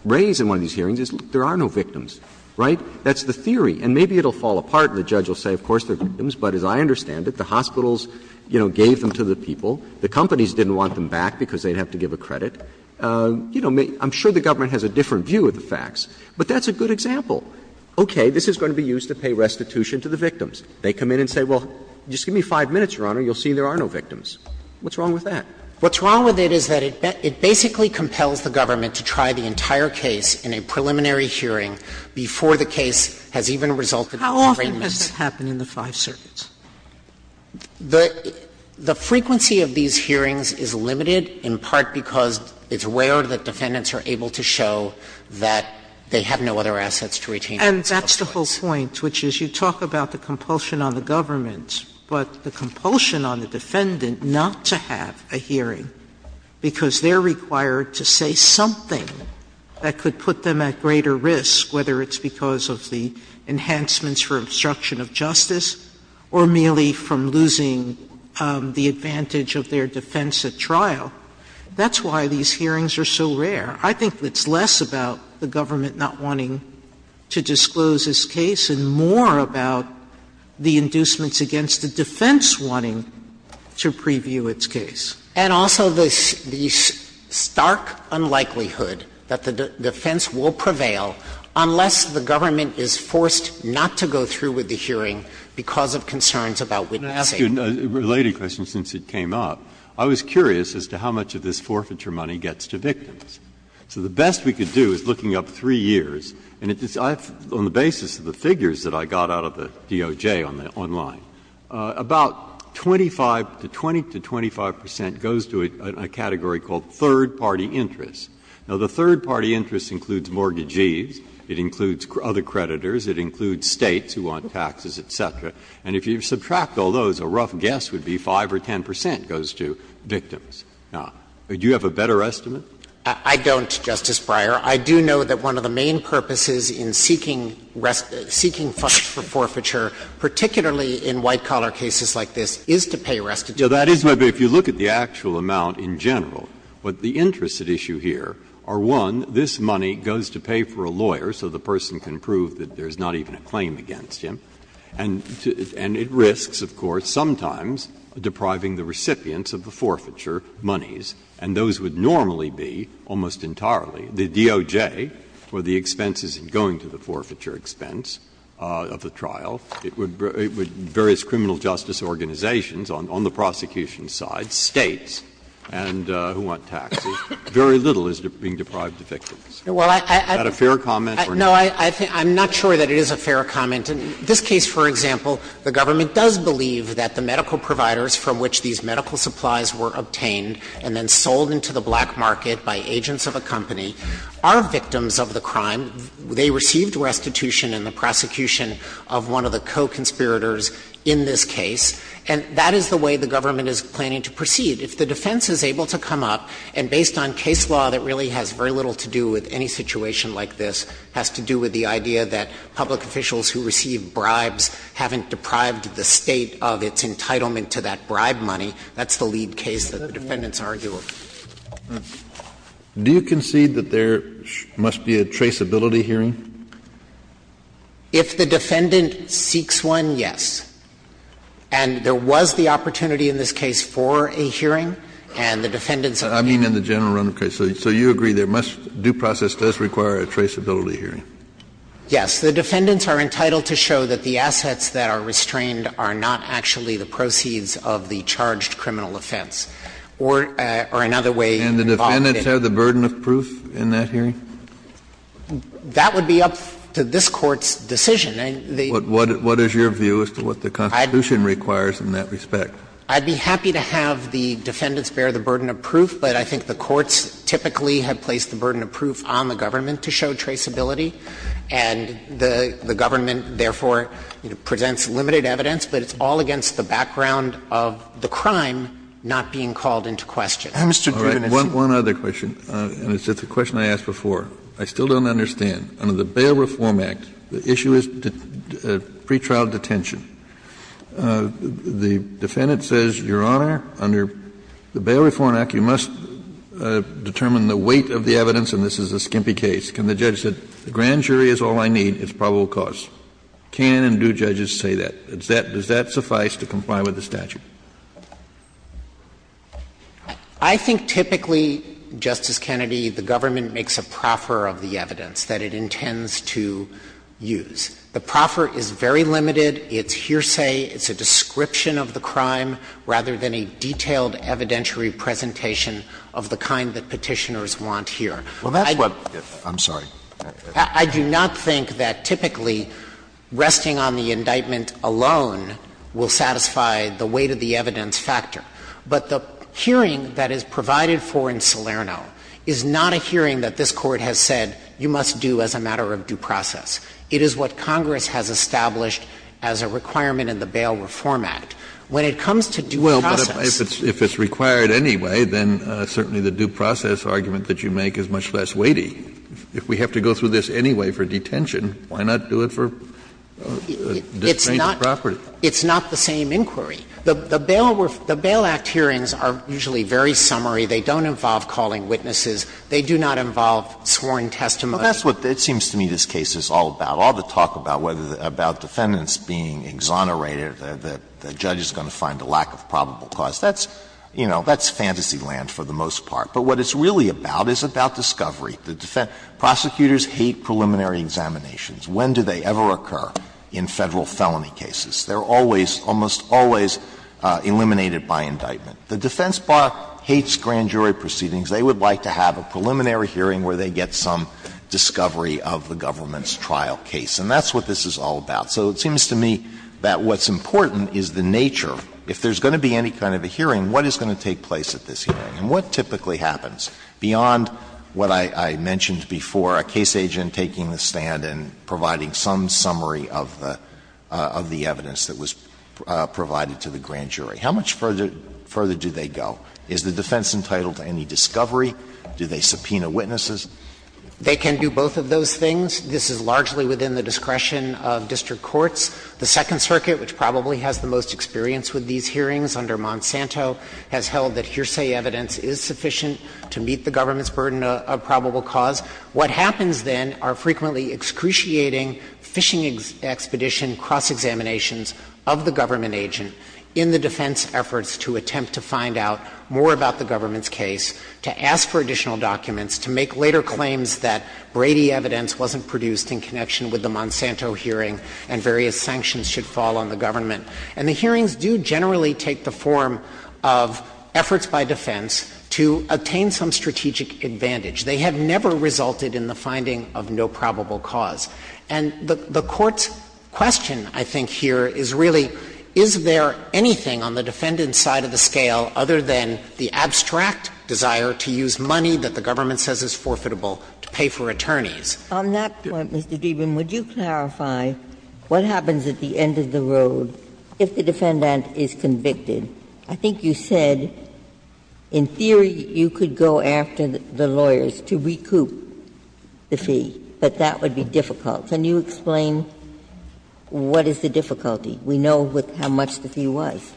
raise in one of these hearings, is there are no victims, right? That's the theory. And maybe it will fall apart, and the judge will say, of course, they're victims. But as I understand it, the hospitals, you know, gave them to the people. The companies didn't want them back because they'd have to give a credit. You know, I'm sure the government has a different view of the facts. But that's a good example. Okay, this is going to be used to pay restitution to the victims. They come in and say, well, just give me 5 minutes, Your Honor, and you'll see there are no victims. What's wrong with that? What's wrong with it is that it basically compels the government to try the entire case in a preliminary hearing before the case has even resulted in restraints. Sotomayor, what happens in the five circuits? The frequency of these hearings is limited in part because it's rare that defendants are able to show that they have no other assets to retain. And that's the whole point, which is you talk about the compulsion on the government, but the compulsion on the defendant not to have a hearing because they're required to say something that could put them at greater risk, whether it's because of the obstruction of justice or merely from losing the advantage of their defense at trial. That's why these hearings are so rare. I think it's less about the government not wanting to disclose this case and more about the inducements against the defense wanting to preview its case. And also the stark unlikelihood that the defense will prevail unless the government is forced not to go through with the hearing because of concerns about witnessing. Breyer, I'm going to ask you a related question since it came up. I was curious as to how much of this forfeiture money gets to victims. So the best we could do is looking up 3 years, and it's on the basis of the figures that I got out of the DOJ on the online, about 25 to 20 to 25 percent goes to a category called third-party interest. Now, the third-party interest includes mortgages. It includes other creditors. It includes States who want taxes, et cetera. And if you subtract all those, a rough guess would be 5 or 10 percent goes to victims. Now, do you have a better estimate? I don't, Justice Breyer. I do know that one of the main purposes in seeking rest – seeking funds for forfeiture, particularly in white-collar cases like this, is to pay restitution. That is what – if you look at the actual amount in general, what the interests at issue here are, one, this money goes to pay for a lawyer so the person can prove that there's not even a claim against him, and it risks, of course, sometimes depriving the recipients of the forfeiture monies, and those would normally be, almost entirely, the DOJ for the expenses in going to the forfeiture expense of the trial. It would – various criminal justice organizations on the prosecution side, States and who want taxes, very little is being deprived to victims. Is that a fair comment or not? No, I think – I'm not sure that it is a fair comment. In this case, for example, the government does believe that the medical providers from which these medical supplies were obtained and then sold into the black market by agents of a company are victims of the crime. They received restitution in the prosecution of one of the co-conspirators in this case. And that is the way the government is planning to proceed. If the defense is able to come up, and based on case law that really has very little to do with any situation like this, has to do with the idea that public officials who receive bribes haven't deprived the State of its entitlement to that bribe money, that's the lead case that the defendants argue. Do you concede that there must be a traceability hearing? If the defendant seeks one, yes. And there was the opportunity in this case for a hearing, and the defendants are entitled to it. I mean in the general run of cases. So you agree there must – due process does require a traceability hearing? Yes. The defendants are entitled to show that the assets that are restrained are not actually the proceeds of the charged criminal offense, or another way involved in it. And the defendants have the burden of proof in that hearing? That would be up to this Court's decision. What is your view as to what the Constitution requires in that respect? I'd be happy to have the defendants bear the burden of proof, but I think the courts typically have placed the burden of proof on the government to show traceability. And the government, therefore, presents limited evidence, but it's all against the background of the crime not being called into question. Mr. Dreeben, if you would. All right. One other question, and it's a question I asked before. I still don't understand. Under the Bail Reform Act, the issue is pretrial detention. The defendant says, Your Honor, under the Bail Reform Act, you must determine the weight of the evidence, and this is a skimpy case. Can the judge say, the grand jury is all I need, it's probable cause? Can and do judges say that? Does that suffice to comply with the statute? Dreeben, I think typically, Justice Kennedy, the government makes a proffer of the evidence that it intends to use. The proffer is very limited, it's hearsay, it's a description of the crime, rather than a detailed evidentiary presentation of the kind that Petitioners want here. I do not think that typically resting on the indictment alone will satisfy the weight of the evidence factor, but the hearing that is provided for in Salerno is not a hearing that this Court has said you must do as a matter of due process. It is what Congress has established as a requirement in the Bail Reform Act. When it comes to due process. Kennedy, if it's required anyway, then certainly the due process argument that you make is much less weighty. If we have to go through this anyway for detention, why not do it for disfranchment property? It's not the same inquiry. The Bail Act hearings are usually very summary. They don't involve calling witnesses. They do not involve sworn testimony. Alito, that's what it seems to me this case is all about, all the talk about defendants being exonerated, that the judge is going to find a lack of probable cause. That's, you know, that's fantasy land for the most part. But what it's really about is about discovery. Prosecutors hate preliminary examinations. When do they ever occur in Federal felony cases? They're always, almost always eliminated by indictment. The defense bar hates grand jury proceedings. They would like to have a preliminary hearing where they get some discovery of the government's trial case. And that's what this is all about. So it seems to me that what's important is the nature. If there's going to be any kind of a hearing, what is going to take place at this hearing? And what typically happens beyond what I mentioned before, a case agent taking the stand and providing some summary of the evidence that was provided to the grand jury. How much further do they go? Is the defense entitled to any discovery? Do they subpoena witnesses? They can do both of those things. This is largely within the discretion of district courts. The Second Circuit, which probably has the most experience with these hearings under Monsanto, has held that hearsay evidence is sufficient to meet the government's burden of probable cause. What happens then are frequently excruciating fishing expedition cross-examinations of the government agent in the defense efforts to attempt to find out more about the government's case, to ask for additional documents, to make later claims that Brady evidence wasn't produced in connection with the Monsanto hearing and various sanctions should fall on the government. And the hearings do generally take the form of efforts by defense to obtain some strategic advantage. They have never resulted in the finding of no probable cause. And the Court's question, I think, here is really, is there anything on the defendant's side of the scale other than the abstract desire to use money that the government says is forfeitable to pay for attorneys? Ginsburg. On that point, Mr. Dreeben, would you clarify what happens at the end of the road if the defendant is convicted? I think you said in theory you could go after the lawyers to recoup the fee, but that would be difficult. Can you explain what is the difficulty? We know how much the fee was.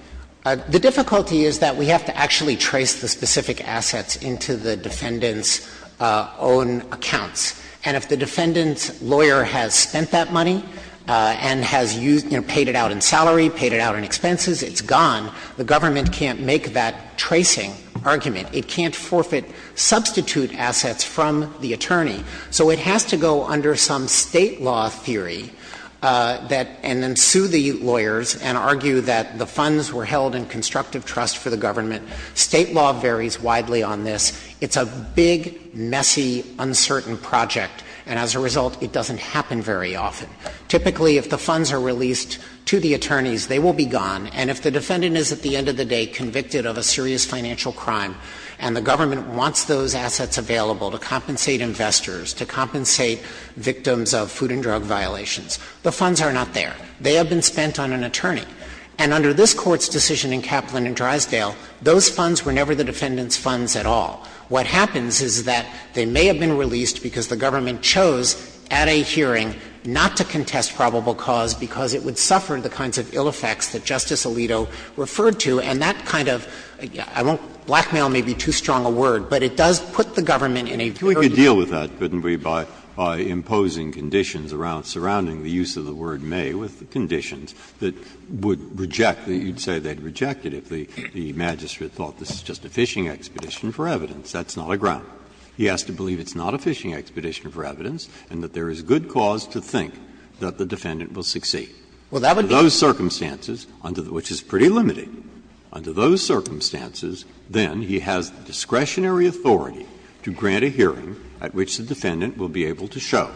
Dreeben. The difficulty is that we have to actually trace the specific assets into the defendant's own accounts. And if the defendant's lawyer has spent that money and has used them, paid it out in salary, paid it out in expenses, it's gone. The government can't make that tracing argument. It can't forfeit substitute assets from the attorney. So it has to go under some State law theory that — and then sue the lawyers and argue that the funds were held in constructive trust for the government. State law varies widely on this. It's a big, messy, uncertain project. And as a result, it doesn't happen very often. Typically, if the funds are released to the attorneys, they will be gone. And if the defendant is, at the end of the day, convicted of a serious financial crime and the government wants those assets available to compensate investors, to compensate victims of food and drug violations, the funds are not there. They have been spent on an attorney. And under this Court's decision in Kaplan and Drysdale, those funds were never the defendant's funds at all. What happens is that they may have been released because the government chose at a hearing not to contest probable cause because it would suffer the kinds of ill effects that Justice Alito referred to, and that kind of — I won't blackmail, maybe, too strong a word, but it does put the government in a very difficult position. Breyer, if we could deal with that, couldn't we, by imposing conditions around surrounding the use of the word may with conditions that would reject the — you'd say they'd reject it if the magistrate thought this is just a fishing expedition for evidence. That's not a ground. He has to believe it's not a fishing expedition for evidence and that there is good cause to think that the defendant will succeed. Under those circumstances, which is pretty limited, under those circumstances, then he has discretionary authority to grant a hearing at which the defendant will be able to show,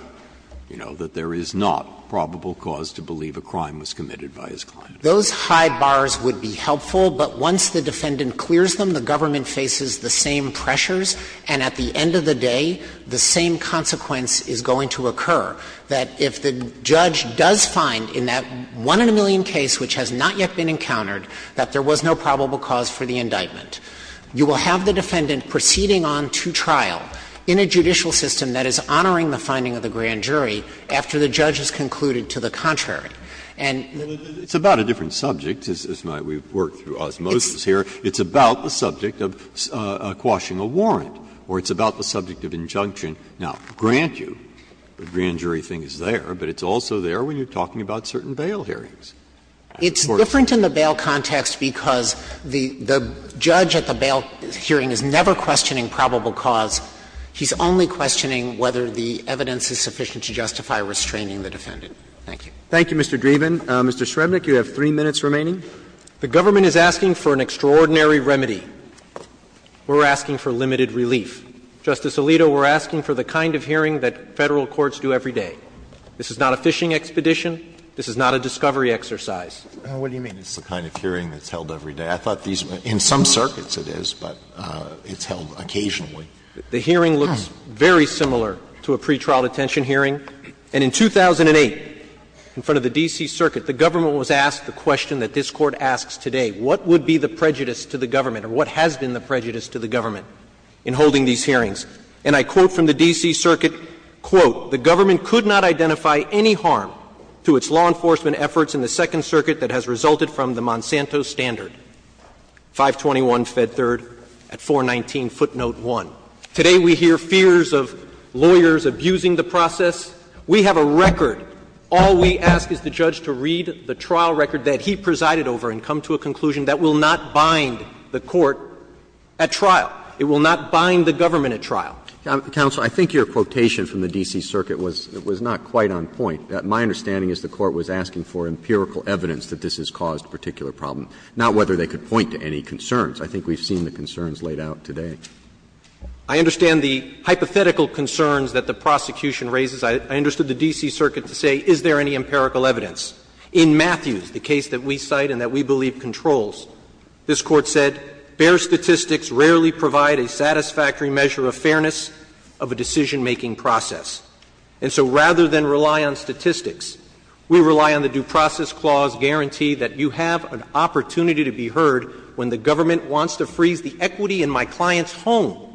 you know, that there is not probable cause to believe a crime was committed by his client. Those high bars would be helpful, but once the defendant clears them, the government faces the same pressures, and at the end of the day, the same consequence is going to occur, that if the judge does find in that one-in-a-million case which has not yet been encountered that there was no probable cause for the indictment, you will have the defendant proceeding on to trial in a judicial system that is honoring the finding of the grand jury after the judge has concluded to the contrary. And the other thing is that the defendant will be able to show, you know, that there is no probable cause for quashing a warrant, or it's about the subject of injunction. Now, grant you, the grand jury thing is there, but it's also there when you are talking about certain bail hearings. Dreeben, it's different in the bail context because the judge at the bail hearing is never questioning probable cause. He's only questioning whether the evidence is sufficient to justify restraining the defendant. Thank you. Thank you, Mr. Dreeben. Mr. Shrevenick, you have 3 minutes remaining. The government is asking for an extraordinary remedy. We're asking for limited relief. Justice Alito, we're asking for the kind of hearing that Federal courts do every day. This is not a fishing expedition. This is not a discovery exercise. What do you mean? It's the kind of hearing that's held every day. I thought these were – in some circuits it is, but it's held occasionally. The hearing looks very similar to a pretrial detention hearing. And in 2008, in front of the D.C. Circuit, the government was asked the question that this Court asks today. What would be the prejudice to the government, or what has been the prejudice to the government in holding these hearings? And I quote from the D.C. Circuit, quote, the government could not identify any harm to its law enforcement efforts in the Second Circuit that has resulted from the Monsanto standard, 521 Fed 3rd at 419 footnote 1. We have a record. All we ask is the judge to read the trial record that he presided over and come to a conclusion that will not bind the court at trial. It will not bind the government at trial. Roberts. Counsel, I think your quotation from the D.C. Circuit was not quite on point. My understanding is the Court was asking for empirical evidence that this has caused a particular problem, not whether they could point to any concerns. I think we've seen the concerns laid out today. I understand the hypothetical concerns that the prosecution raises. I understood the D.C. Circuit to say, is there any empirical evidence? In Matthews, the case that we cite and that we believe controls, this Court said, bare statistics rarely provide a satisfactory measure of fairness of a decision-making process. And so rather than rely on statistics, we rely on the Due Process Clause guarantee that you have an opportunity to be heard when the government wants to freeze the equity in my client's home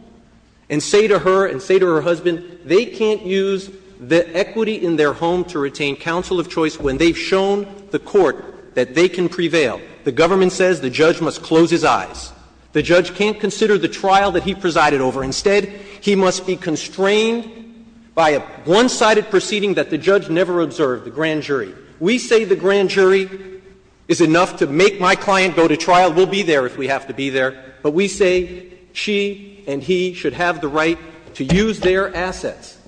and say to her and say to her husband, they can't use the equity in their home to retain counsel of choice when they've shown the court that they can prevail. The government says the judge must close his eyes. The judge can't consider the trial that he presided over. Instead, he must be constrained by a one-sided proceeding that the judge never observed, the grand jury. We say the grand jury is enough to make my client go to trial. We'll be there if we have to be there. But we say she and he should have the right to use their assets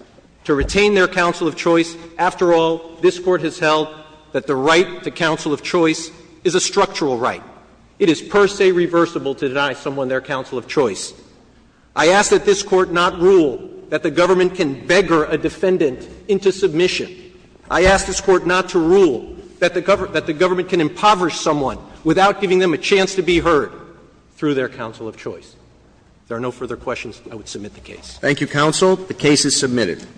to retain their counsel of choice. After all, this Court has held that the right to counsel of choice is a structural right. It is per se reversible to deny someone their counsel of choice. I ask that this Court not rule that the government can beggar a defendant into submission. I ask this Court not to rule that the government can impoverish someone without giving them a chance to be heard through their counsel of choice. If there are no further questions, I would submit the case. Roberts. Thank you, counsel. The case is submitted.